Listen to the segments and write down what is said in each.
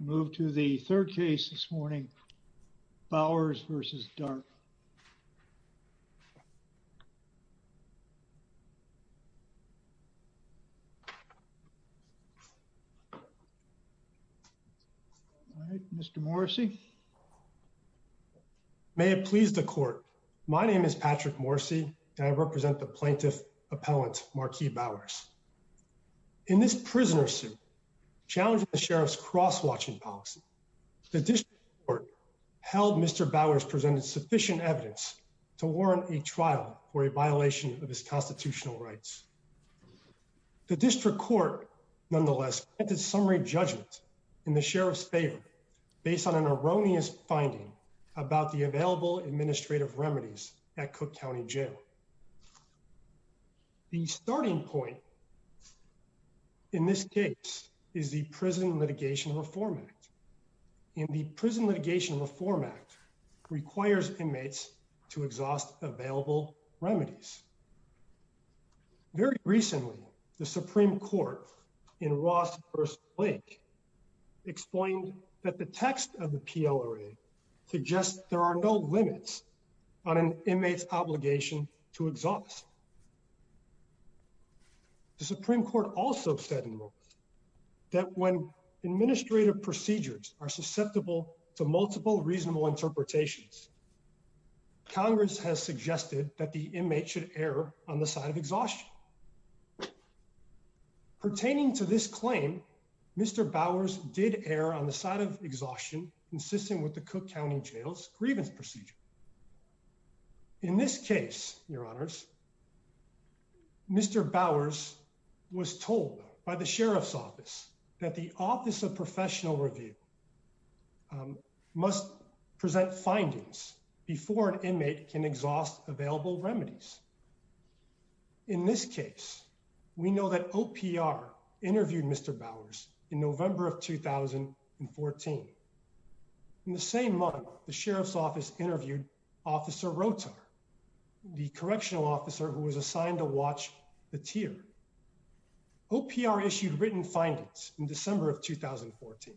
Move to the third case this morning Bowers v. Dart. Mr. Morrissey may it please the court. My name is Patrick Morrissey and I represent the plaintiff appellant Marquis Bowers in this prisoner suit challenge the sheriff's cross-watching policy. The district court held Mr. Bowers presented sufficient evidence to warrant a trial for a violation of his constitutional rights. The district court nonetheless at the summary judgment in the sheriff's favor based on an erroneous finding about the available administrative remedies at Cook County Jail. The starting point in this case is the Prison Litigation Reform Act in the Prison Litigation Reform Act requires inmates to exhaust available remedies. Very recently the Supreme Court in Ross First Lake explained that the text of the PLRA suggests there are no limits on an inmate's obligation to exhaust. The Supreme Court also said in the moment that when administrative procedures are susceptible to multiple reasonable interpretations Congress has suggested that the inmate should err on the side of exhaustion. Pertaining to this claim Mr. Bowers did err on the side of exhaustion insisting with the Cook County Jail's grievance procedure. In this case, your honors Mr. Bowers was told by the sheriff's office that the Office of Professional Review must present findings before an inmate can exhaust available remedies. In this case, we know that OPR interviewed Mr. Bowers in November of 2014. In the same month the sheriff's office interviewed officer Rotar the correctional officer who was assigned to watch the tier. OPR issued written findings in December of 2014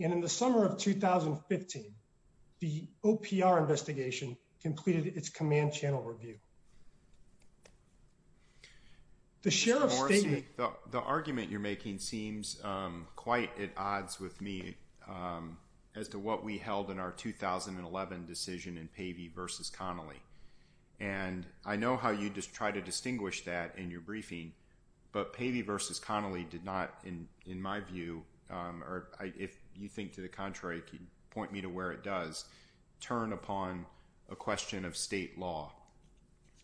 and in the summer of 2015 the OPR investigation completed its command channel review. The sheriff's statement... The argument you're making seems quite at odds with me as to what we held in our 2011 decision in Pavey versus Connolly. And I know how you just try to distinguish that in your briefing but Pavey versus Connolly did not in my view or if you think to the contrary point me to where it does turn upon a question of state law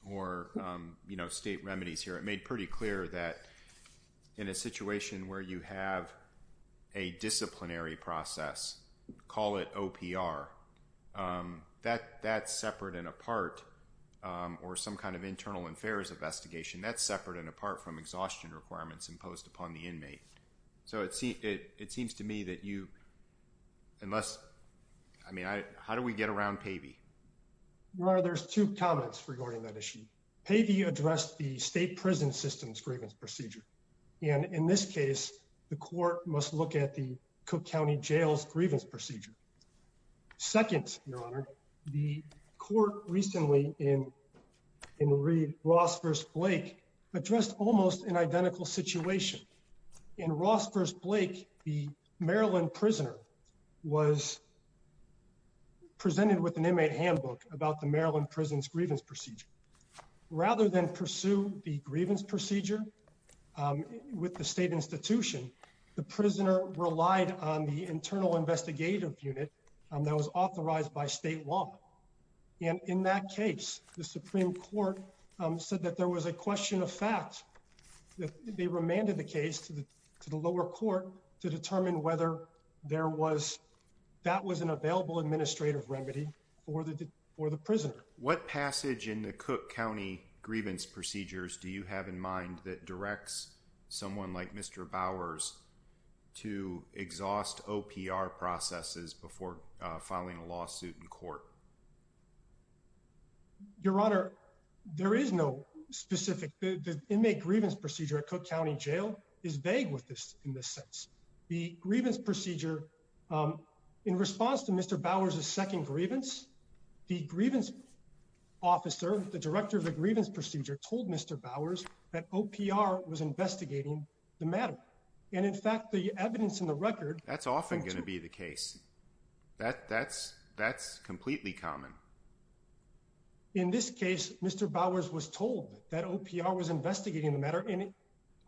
or you know state remedies here. It made pretty clear that in a situation where you have a disciplinary process call it OPR. That's separate and apart or some kind of internal affairs investigation. That's separate and apart from exhaustion requirements imposed upon the inmate. So it seems to me that you unless I mean, how do we get around Pavey? Well, there's two comments regarding that issue. Pavey addressed the state prison system's grievance procedure and in this case the court must look at the Cook County Jail's grievance procedure. Second, Your Honor, the court recently in in Reed Ross versus Blake addressed almost an identical situation. In Ross versus Blake the Maryland prisoner was presented with an inmate handbook about the Maryland prison's grievance procedure. Rather than pursue the grievance procedure with the state institution the prisoner relied on the internal investigative unit that was authorized by state law. And in that case the Supreme Court said that there was a question of fact that they remanded the case to the lower court to determine whether there was that was an available administrative remedy for the prisoner. What passage in the Cook County grievance procedures do you have in mind that directs someone like Mr. Bowers to exhaust OPR processes before filing a lawsuit in court? Your Honor, there is no specific. The inmate grievance procedure at Cook County Jail is vague with this in this sense. The grievance procedure in response to Mr. Bowers' second grievance, the grievance officer, the director of the grievance procedure told Mr. Bowers that OPR was investigating the matter and in fact the evidence in the record. That's often going to be the case. That that's that's completely common. In this case, Mr. Bowers was told that OPR was investigating the matter in it.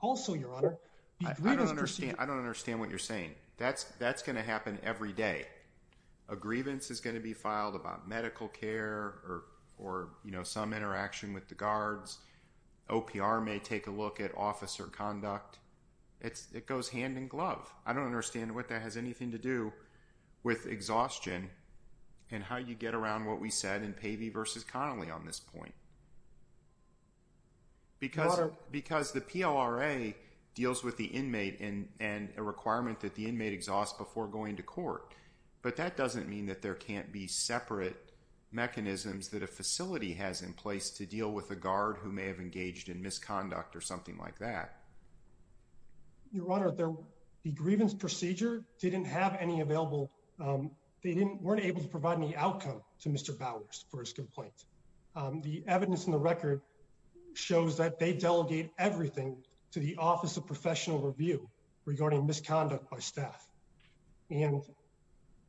Also, Your Honor, I don't understand. I don't understand what you're saying. That's that's going to happen every day. A grievance is going to be filed about medical care or or you know, some interaction with the guards. OPR may take a look at officer conduct. It's it goes hand in glove. I don't understand what that has anything to do with exhaustion and how you get around what we said in Pavey versus Connolly on this point. Because because the PLRA deals with the inmate and and a requirement that the inmate exhaust before going to court, but that doesn't mean that there can't be separate mechanisms that a facility has in place to deal with a guard who may have engaged in misconduct or something like that. Your Honor there. The grievance procedure didn't have any available. They didn't weren't able to provide any outcome to Mr. Bowers for his complaint. The evidence in the record shows that they delegate everything to the Office of Professional Review regarding misconduct by staff. And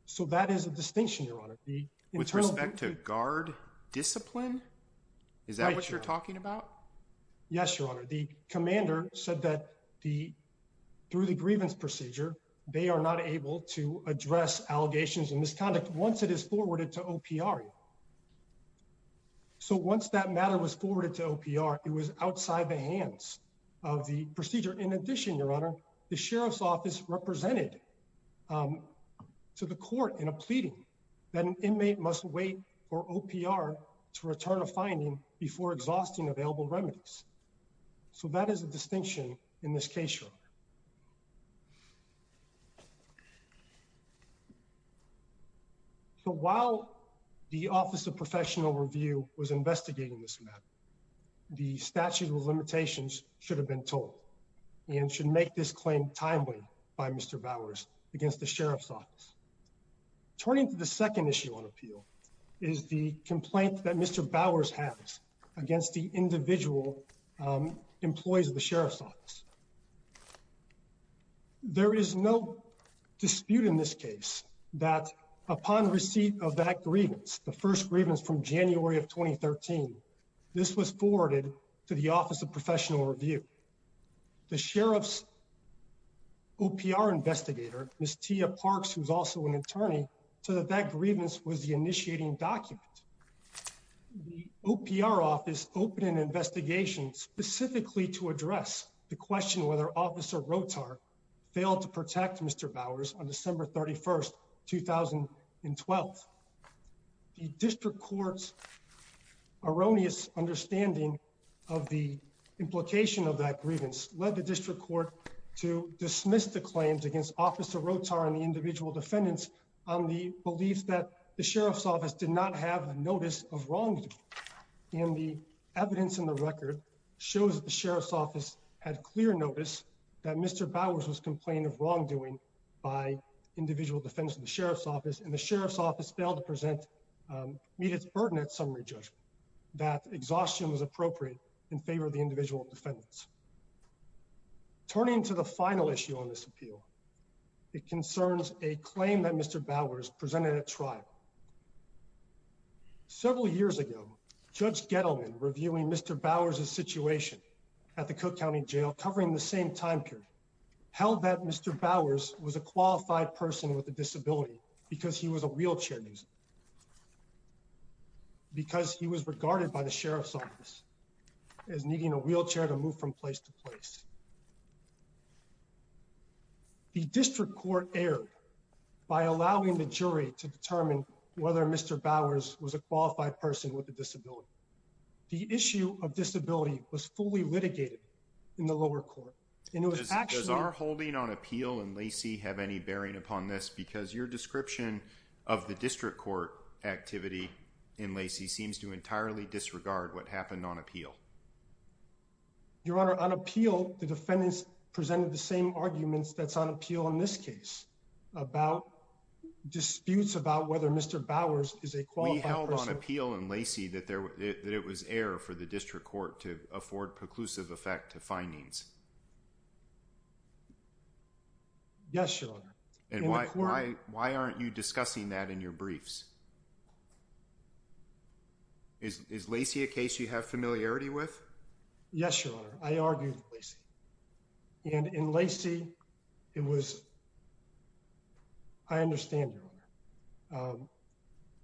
so that is a distinction, Your Honor. With respect to guard discipline. Is that what you're talking about? Yes, Your Honor. The commander said that the through the grievance procedure, they are not able to address allegations and misconduct once it is forwarded to OPR. So once that matter was forwarded to OPR, it was outside the hands of the procedure. In addition, Your Honor, the sheriff's office represented to the court in a pleading that an inmate must wait for OPR to return a finding before exhausting available remedies. So that is a distinction in this case, Your Honor. So while the Office of Professional Review was investigating this matter, the statute of limitations should have been told and should make this claim timely by Mr. Bowers against the sheriff's office. Turning to the second issue on appeal is the complaint that Mr. Bowers has against the individual employees of the sheriff's office. There is no dispute in this case that upon receipt of that grievance, the first grievance from January of 2013, this was forwarded to the Office of Professional Review. The sheriff's OPR investigator, Ms. Tia Parks, who's also an attorney, said that that grievance was the initiating document. The OPR office opened an investigation specifically to address the question whether Officer Rotar failed to protect Mr. Bowers on December 31st, 2012. The district court's erroneous understanding of the implication of that grievance led the district court to dismiss the claims against Officer Rotar and the individual defendants on the belief that the sheriff's office did not have a notice of wrongdoing. And the evidence in the record shows that the sheriff's office had clear notice that Mr. Bowers was complained of wrongdoing by individual defendants of the sheriff's office and the sheriff's office failed to present meet its burden at summary judgment, that exhaustion was appropriate in favor of the individual defendants. Turning to the final issue on this appeal, it concerns a claim that Mr. Bowers presented at trial. Several years ago, Judge Gettleman reviewing Mr. Bowers' situation at the Cook County Jail covering the same time period held that Mr. Bowers was a qualified person with a disability because he was a wheelchair user because he was regarded by the sheriff's office as needing a wheelchair to move from place to place. The district court erred by allowing the jury to determine whether Mr. Bowers was a qualified person with a disability. The issue of disability was fully litigated in the lower court. And it was actually... Does our holding on appeal and Lacey have any bearing upon this because your description of the district court activity in Lacey seems to entirely disregard what happened on appeal. Your Honor, on appeal, the defendants presented the same arguments that's on appeal in this case about disputes about whether Mr. Bowers is a qualified person. We held on appeal in Lacey that it was error for the district court to afford preclusive effect to findings. Yes, Your Honor. And why aren't you discussing that in your briefs? Is Lacey a case you have familiarity with? Yes, Your Honor. I argued with Lacey. And in Lacey, it was... I understand, Your Honor.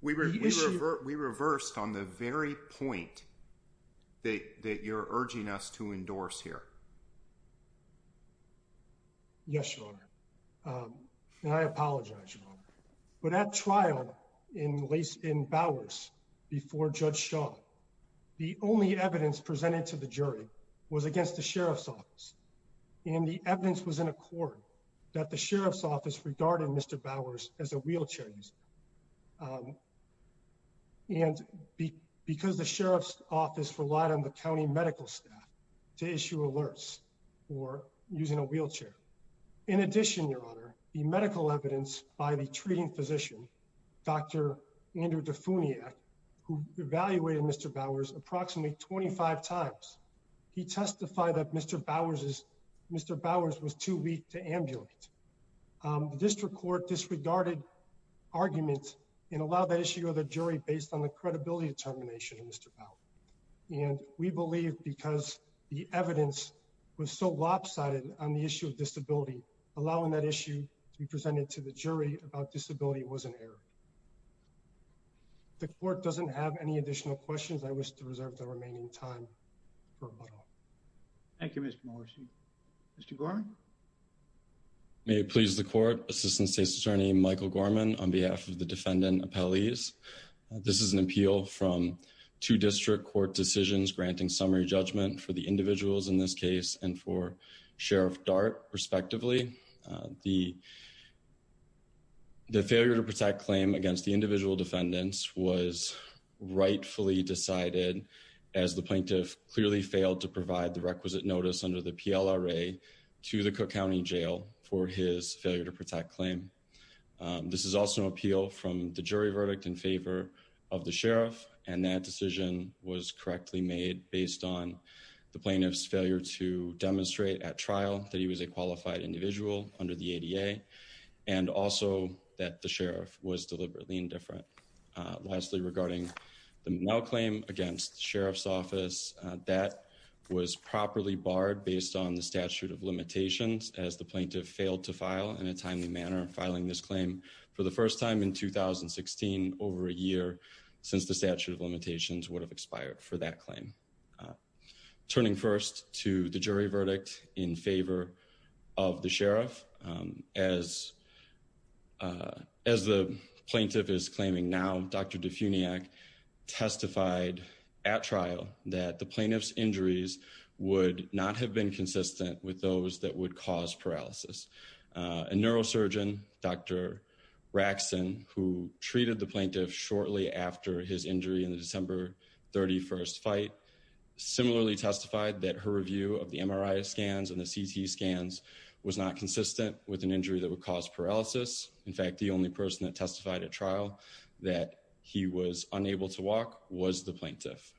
We reversed on the very point that you're urging us to endorse here. Yes, Your Honor. And I apologize, Your Honor. But at trial in Bowers before Judge Shaw, the only evidence presented to the jury was against the sheriff's office. And the evidence was in accord that the sheriff's office regarded Mr. Bowers as a wheelchair user. And because the sheriff's office relied on the county medical staff to issue alerts for using a wheelchair. In addition, Your Honor, the medical evidence by the treating physician, Dr. Andrew Defounia, who evaluated Mr. Bowers approximately 25 times, he testified that Mr. Bowers is... Mr. Bowers was too weak to ambulate. The district court disregarded arguments and allowed that issue of the jury based on the credibility determination of Mr. Bowers. And we believe because the evidence was so lopsided on the issue of disability, allowing that issue to be presented to the jury about disability was an error. The court doesn't have any additional questions. I wish to reserve the remaining time. For a moment. Thank you, Mr. Morrissey. Mr. Gorman. May it please the court. Assistant State's Attorney Michael Gorman on behalf of the defendant appellees. This is an appeal from two district court decisions granting summary judgment for the individuals in this case and for Sheriff Dart, respectively. The... The failure to protect claim against the individual defendants was rightfully decided as the plaintiff clearly failed to provide the requisite notice under the PLRA to the Cook County Jail for his failure to protect claim. This is also an appeal from the jury verdict in favor of the Sheriff and that decision was correctly made based on the plaintiff's failure to demonstrate at trial that he was a qualified individual under the ADA and also that the Sheriff was deliberately indifferent. Lastly, regarding the now claim against Sheriff's office that was properly barred based on the statute of limitations as the plaintiff failed to file in a timely manner filing this claim for the first time in 2016 over a year since the statute of limitations would have expired for that claim. Turning first to the jury verdict in favor of the Sheriff as as the plaintiff is claiming now, Dr. Defunyak testified at trial that the plaintiff's injuries would not have been consistent with those that would cause paralysis. A neurosurgeon, Dr. Raxson, who treated the plaintiff shortly after his injury in the December 31st fight, similarly testified that her review of the MRI scans and the CT scans was not consistent with an injury that would cause paralysis. In fact, the only person that testified at trial that he was unable to walk was the plaintiff.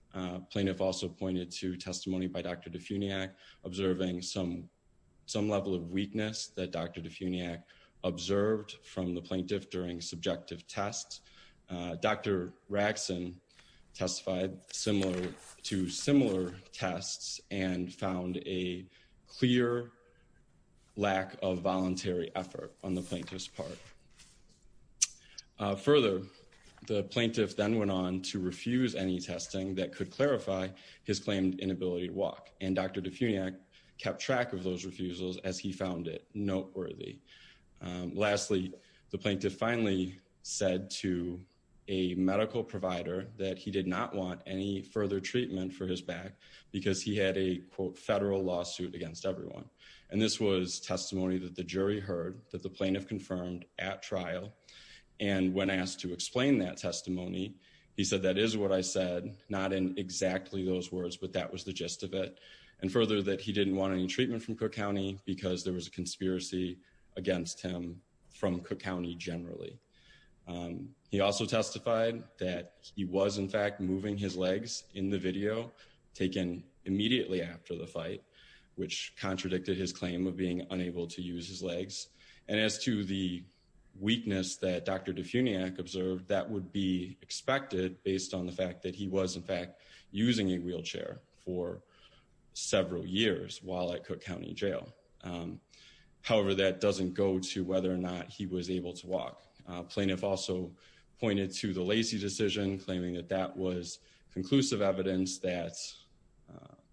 Plaintiff also pointed to testimony by Dr. Defunyak observing some some level of weakness that Dr. Defunyak observed from the plaintiff during subjective tests. Dr. Raxson testified similar to similar tests and found a clear lack of voluntary effort on the plaintiff's part. Further, the plaintiff then went on to refuse any testing that could clarify his claimed inability to walk and Dr. Defunyak kept track of those refusals as he found it noteworthy. Lastly, the plaintiff finally said to a medical provider that he did not want any further treatment for his back because he had a quote federal lawsuit against everyone and this was testimony that the jury heard that the plaintiff confirmed at trial and when asked to explain that testimony, he said that is what I said not in exactly those words, but that was the gist of it and further that he didn't want any treatment from Cook County because there was a conspiracy against him from Cook County generally. He also testified that he was in fact moving his legs in the video taken immediately after the fight which contradicted his claim of being unable to use his legs and as to the weakness that Dr. Defunyak observed that would be expected based on the fact that he was in fact using a wheelchair for several years while at Cook County Jail. However, that doesn't go to whether or not he was able to walk. Plaintiff also pointed to the Lacey decision claiming that that was conclusive evidence that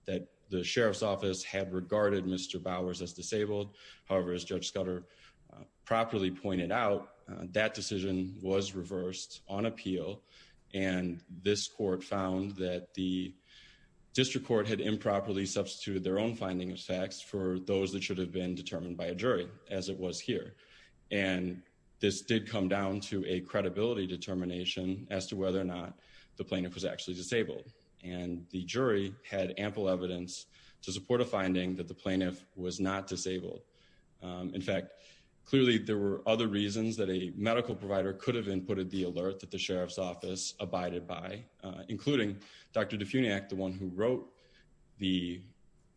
that the sheriff's office had regarded Mr. Bowers as disabled. However, as Judge Scudder properly pointed out that decision was reversed on appeal and this court found that the District Court had improperly substituted their own finding of facts for those that should have been determined by a jury as it was here and this did come down to a credibility determination as to whether or not the plaintiff was actually disabled and the jury had ample evidence to support a finding that the plaintiff was not disabled. In fact, clearly there were other reasons that a medical provider could have inputted the alert that the sheriff's office abided by including Dr. Defunyak the one who wrote the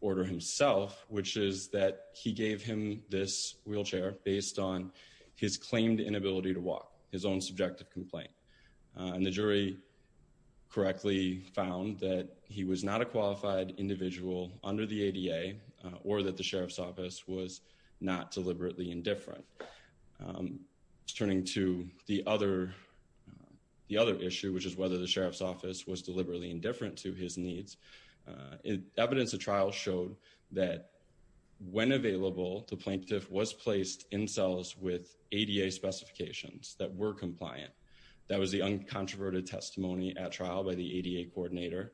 order himself, which is that he gave him this wheelchair based on his claimed inability to walk his own subjective complaint and the jury correctly found that he was not a qualified individual under the ADA or that the sheriff's office was not deliberately indifferent. Turning to the other the other issue, which is whether the sheriff's office was deliberately indifferent to his needs. Evidence of trial showed that when available the plaintiff was placed in cells with ADA specifications that were compliant. That was the uncontroverted testimony at trial by the ADA coordinator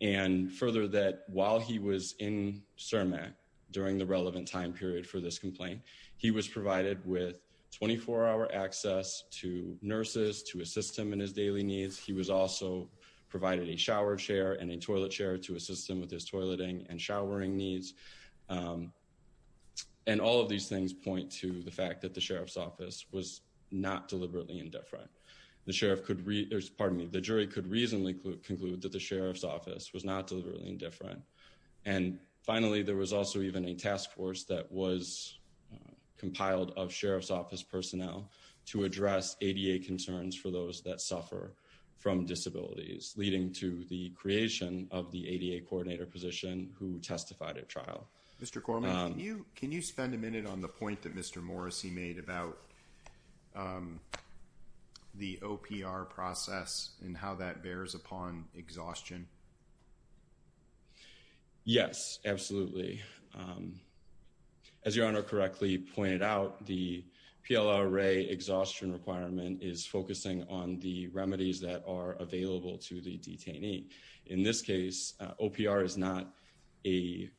and further that while he was in CIRMAC during the relevant time period for this complaint, he was provided with 24-hour access to nurses to assist him in his daily needs. He was also provided a shower chair and a toilet chair to assist him with his toileting and showering needs and all of these things point to the fact that the sheriff's office was not deliberately indifferent. The sheriff could read there's pardon me. The jury could reasonably conclude that the sheriff's office was not deliberately indifferent. And finally, there was also even a task force that was compiled of sheriff's office personnel to address ADA concerns for those that suffer from disabilities leading to the creation of the ADA coordinator position who testified at trial. Mr. Corman, can you spend a minute on the point that Mr. Morrissey made about the OPR process and how that bears upon exhaustion? Yes, absolutely. As your Honor correctly pointed out, the PLRA exhaustion requirement is focusing on the remedies that are available to the detainee. In this case, OPR is not a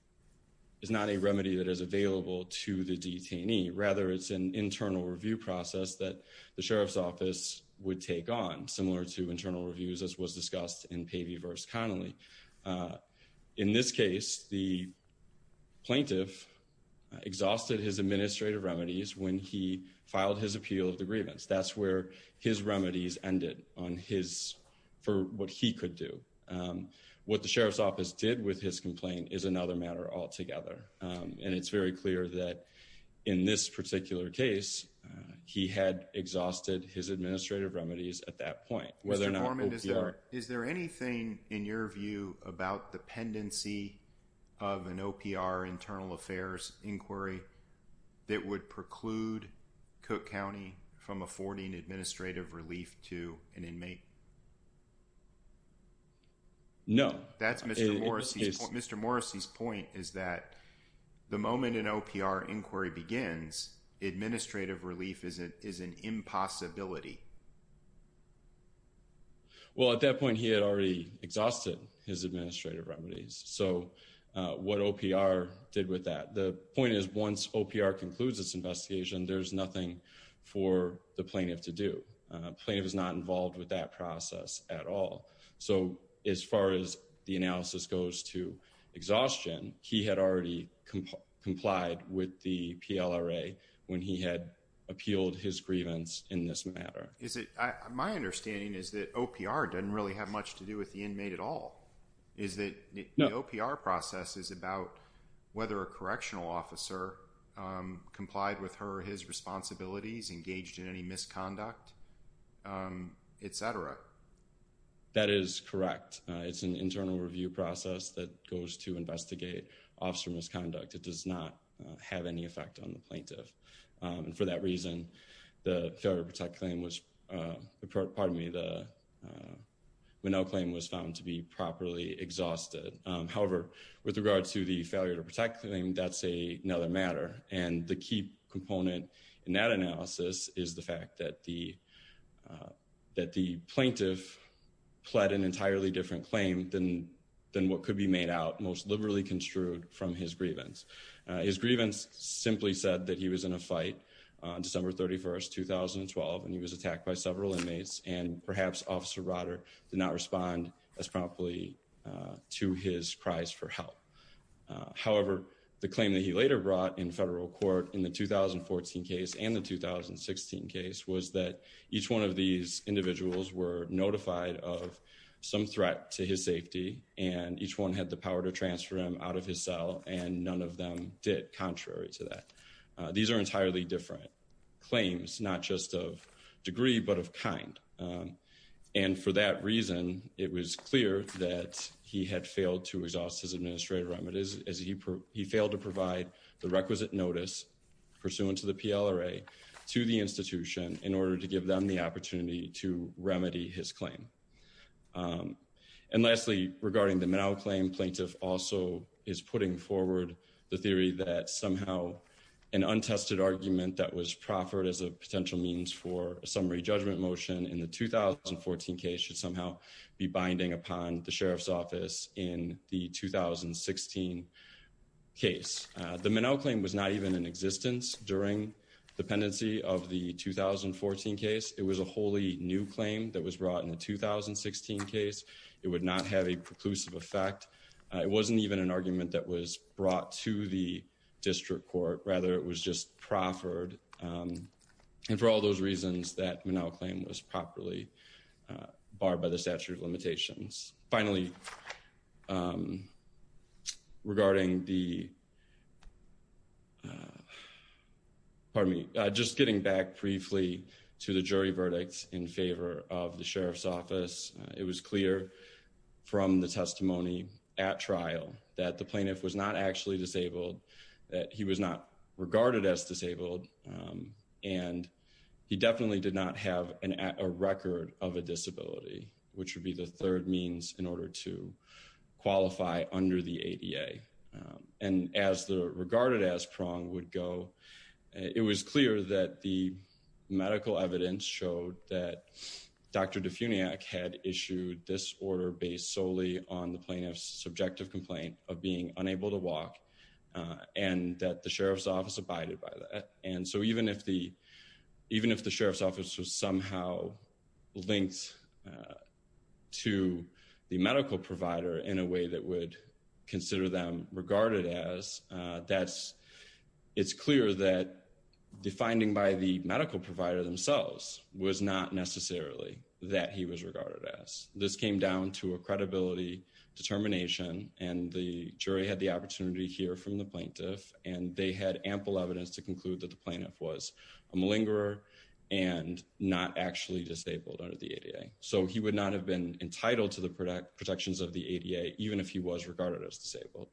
is not a remedy that is available to the detainee. Rather, it's an internal review process that the sheriff's office would take on similar to internal reviews as was discussed in Pavey v. Connolly. In this case, the plaintiff exhausted his administrative remedies when he filed his appeal of the grievance. That's where his remedies ended on his for what he could do. What the sheriff's office did with his complaint is another matter altogether. And it's very clear that in this particular case, he had exhausted his administrative remedies at that point. Mr. Corman, is there anything in your view about dependency of an OPR internal affairs inquiry that would preclude Cook County from affording administrative relief to an inmate? No. That's Mr. Morrissey's point is that the moment an OPR inquiry begins, administrative relief is an impossibility. Well, at that point, he had already exhausted his administrative remedies. So what OPR did with that? The point is once OPR concludes this investigation, there's nothing for the plaintiff to do. Plaintiff is not involved with that process at all. So as far as the analysis goes to exhaustion, he had already complied with the PLRA when he had appealed his grievance in this matter. My understanding is that OPR doesn't really have much to do with the inmate at all. Is that the OPR process is about whether a correctional officer complied with her or his responsibilities, engaged in any misconduct, etc. That is correct. It's an internal review process that goes to investigate officer misconduct. It does not have any effect on the plaintiff. And for that reason, the failure to protect claim was pardon me, the Minnell claim was found to be properly exhausted. However, with regard to the failure to protect claim, that's another matter. And the key component in that analysis is the fact that the that the plaintiff pled an entirely different claim than than what could be made out most liberally construed from his grievance. His grievance simply said that he was in a fight December 31st, 2012, and he was attacked by several inmates and perhaps officer Rotter did not respond as promptly to his cries for help. However, the claim that he later brought in federal court in the 2014 case and the 2016 case was that each one of these individuals were notified of some threat to his safety and each one had the power to transfer him out of his cell and none of them did contrary to that. These are entirely different claims, not just of degree, but of kind. And for that reason, it was clear that he had failed to exhaust his administrative remedies as he failed to provide the requisite notice pursuant to the PLRA to the institution in order to give them the opportunity to remedy his claim. And lastly, regarding the manel claim plaintiff also is putting forward the theory that somehow an untested argument that was proffered as a potential means for a summary judgment motion in the 2014 case should somehow be binding upon the sheriff's office in the 2016 case. The manel claim was not even in existence during dependency of the 2014 case. It was a wholly new claim that was brought in the 2016 case. It would not have a preclusive effect. It wasn't even an argument that was brought to the district court rather. It was just proffered and for all those reasons that manel claim was properly barred by the statute of limitations. Finally, regarding the pardon me, just getting back briefly to the jury verdicts in favor of the sheriff's office. It was clear from the testimony at trial that the plaintiff was not actually disabled that he was not regarded as disabled and he definitely did not have an at a record of a disability which would be the third means in order to qualify under the ADA and as the regarded as prong would go it was clear that the medical evidence showed that Dr. Defuniac had issued this order based solely on the plaintiff's subjective complaint of being unable to walk and that the sheriff's office abided by that. And so even if the even if the sheriff's office was somehow links to the medical provider in a way that would consider them regarded as that's it's clear that the finding by the medical provider themselves was not necessarily that he was regarded as this came down to a credibility determination and the jury had the opportunity here from the plaintiff and they had ample evidence to conclude that the plaintiff was a malingerer and not actually disabled under the ADA. So he would not have been entitled to the product protections of the ADA, even if he was regarded as disabled.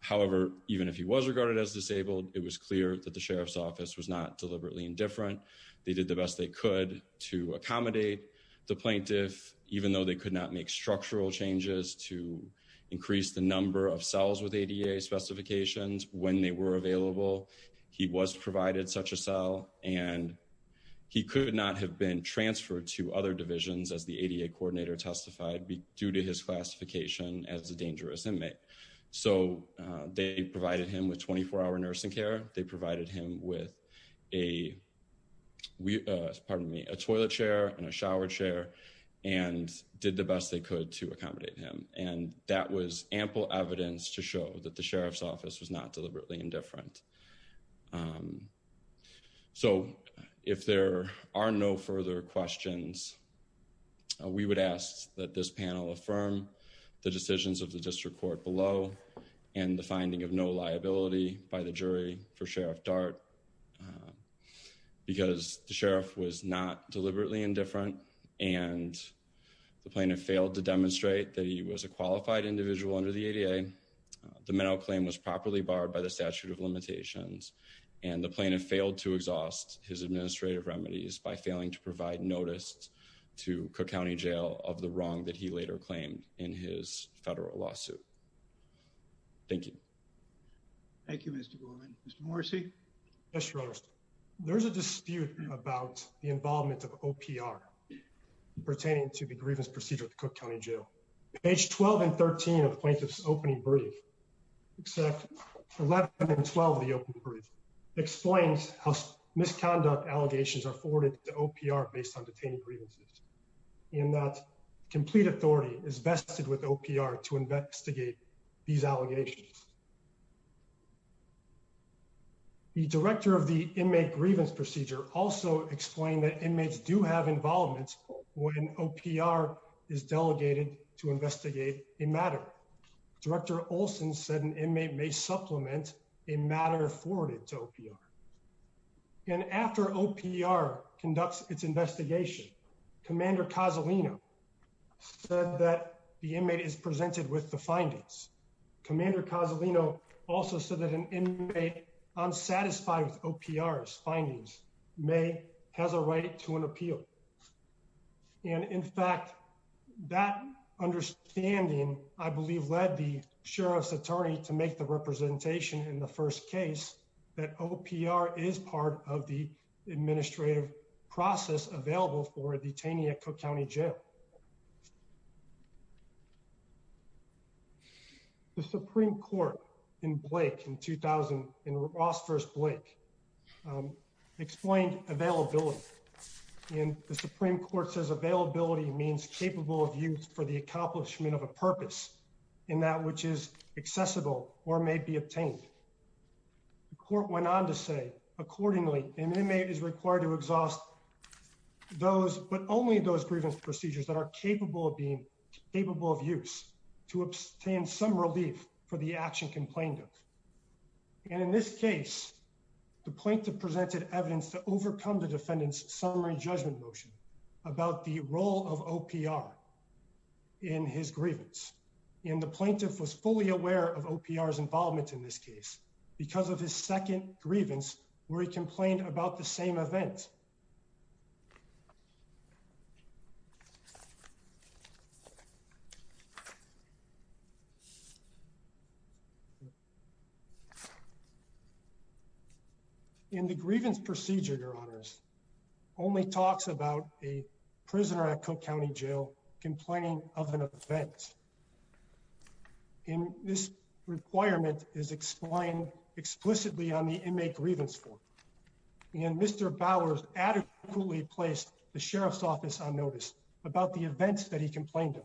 However, even if he was regarded as disabled, it was clear that the sheriff's office was not deliberately indifferent. They did the best they could to accommodate the plaintiff, even though they could not make structural changes to increase the number of cells with ADA specifications when they were available. He was provided such a cell and he could not have been transferred to other divisions as the ADA coordinator testified be due to his classification as a dangerous inmate. So they provided him with 24-hour nursing care. They provided him with a pardon me, a toilet chair and a shower chair and did the best they could to accommodate him and that was ample evidence to show that the sheriff's office was not deliberately indifferent. So if there are no further questions, we would ask that this panel affirm the decisions of the district court below and the finding of no liability by the jury for Sheriff Dart because the sheriff was not deliberately indifferent and the plaintiff failed to demonstrate that he was a qualified individual under the ADA. The mental claim was properly barred by the statute of limitations and the plaintiff failed to exhaust his administrative remedies by failing to provide notice to Cook County Jail of the wrong that he later claimed in his federal lawsuit. Thank you. Thank you. Mr. Gorman. Mr. Morrissey. Yes, your honor. There's a dispute about the involvement of OPR pertaining to the grievance procedure at the Cook County Jail. Page 12 and 13 of the plaintiff's opening brief except 11 and 12 of the opening brief explains how misconduct allegations are forwarded to OPR based on detaining grievances in that complete authority is vested with OPR to investigate these allegations. The director of the inmate grievance procedure also explained that inmates do have involvement when OPR is delegated to investigate a matter. Director Olson said an inmate may supplement a matter forwarded to OPR and after OPR conducts its investigation Commander Cozzolino said that the inmate is presented with the findings Commander Cozzolino also said that an inmate unsatisfied with OPR's findings may has a right to an appeal. And in fact that understanding I believe led the sheriff's attorney to make the representation in the first case that OPR is part of the administrative process available for detaining at Cook County Jail. The Supreme Court in Blake in 2000 in Ross versus Blake explained availability and the Supreme Court says availability means capable of use for the accomplishment of a purpose in that which is accessible or may be obtained. The court went on to say accordingly an inmate is required to exhaust those but only those grievance procedures that are capable of being capable of use to obtain some relief for the action complained of and in this case the plaintiff presented evidence to overcome the defendant's summary judgment motion about the role of OPR in his grievance and the plaintiff was fully aware of OPR's involvement in this case because of his second grievance where he complained about the same event. Thank you. In the grievance procedure your honors only talks about a prisoner at Cook County Jail complaining of an offense. In this requirement is explained explicitly on the inmate grievance for and Mr. Bowers adequately placed the sheriff's office on notice about the events that he complained of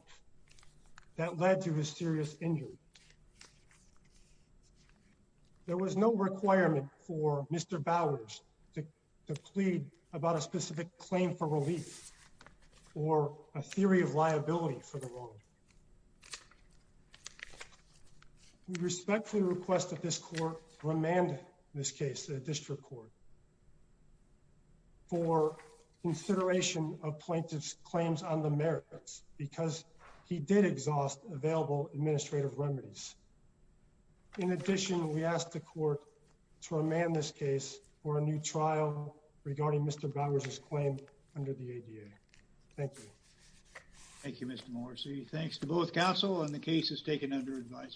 that led to his serious injury. There was no requirement for Mr. Bowers to plead about a specific claim for relief or a theory of liability for the wrong. We respectfully request that this court remand this case the district court consideration of plaintiff's claims on the merits because he did exhaust available administrative remedies. In addition, we asked the court to remand this case for a new trial regarding Mr. Bowers's claim under the ADA. Thank you. Thank you, Mr. Morrissey. Thanks to both counselors. Counsel and the case is taken under advice.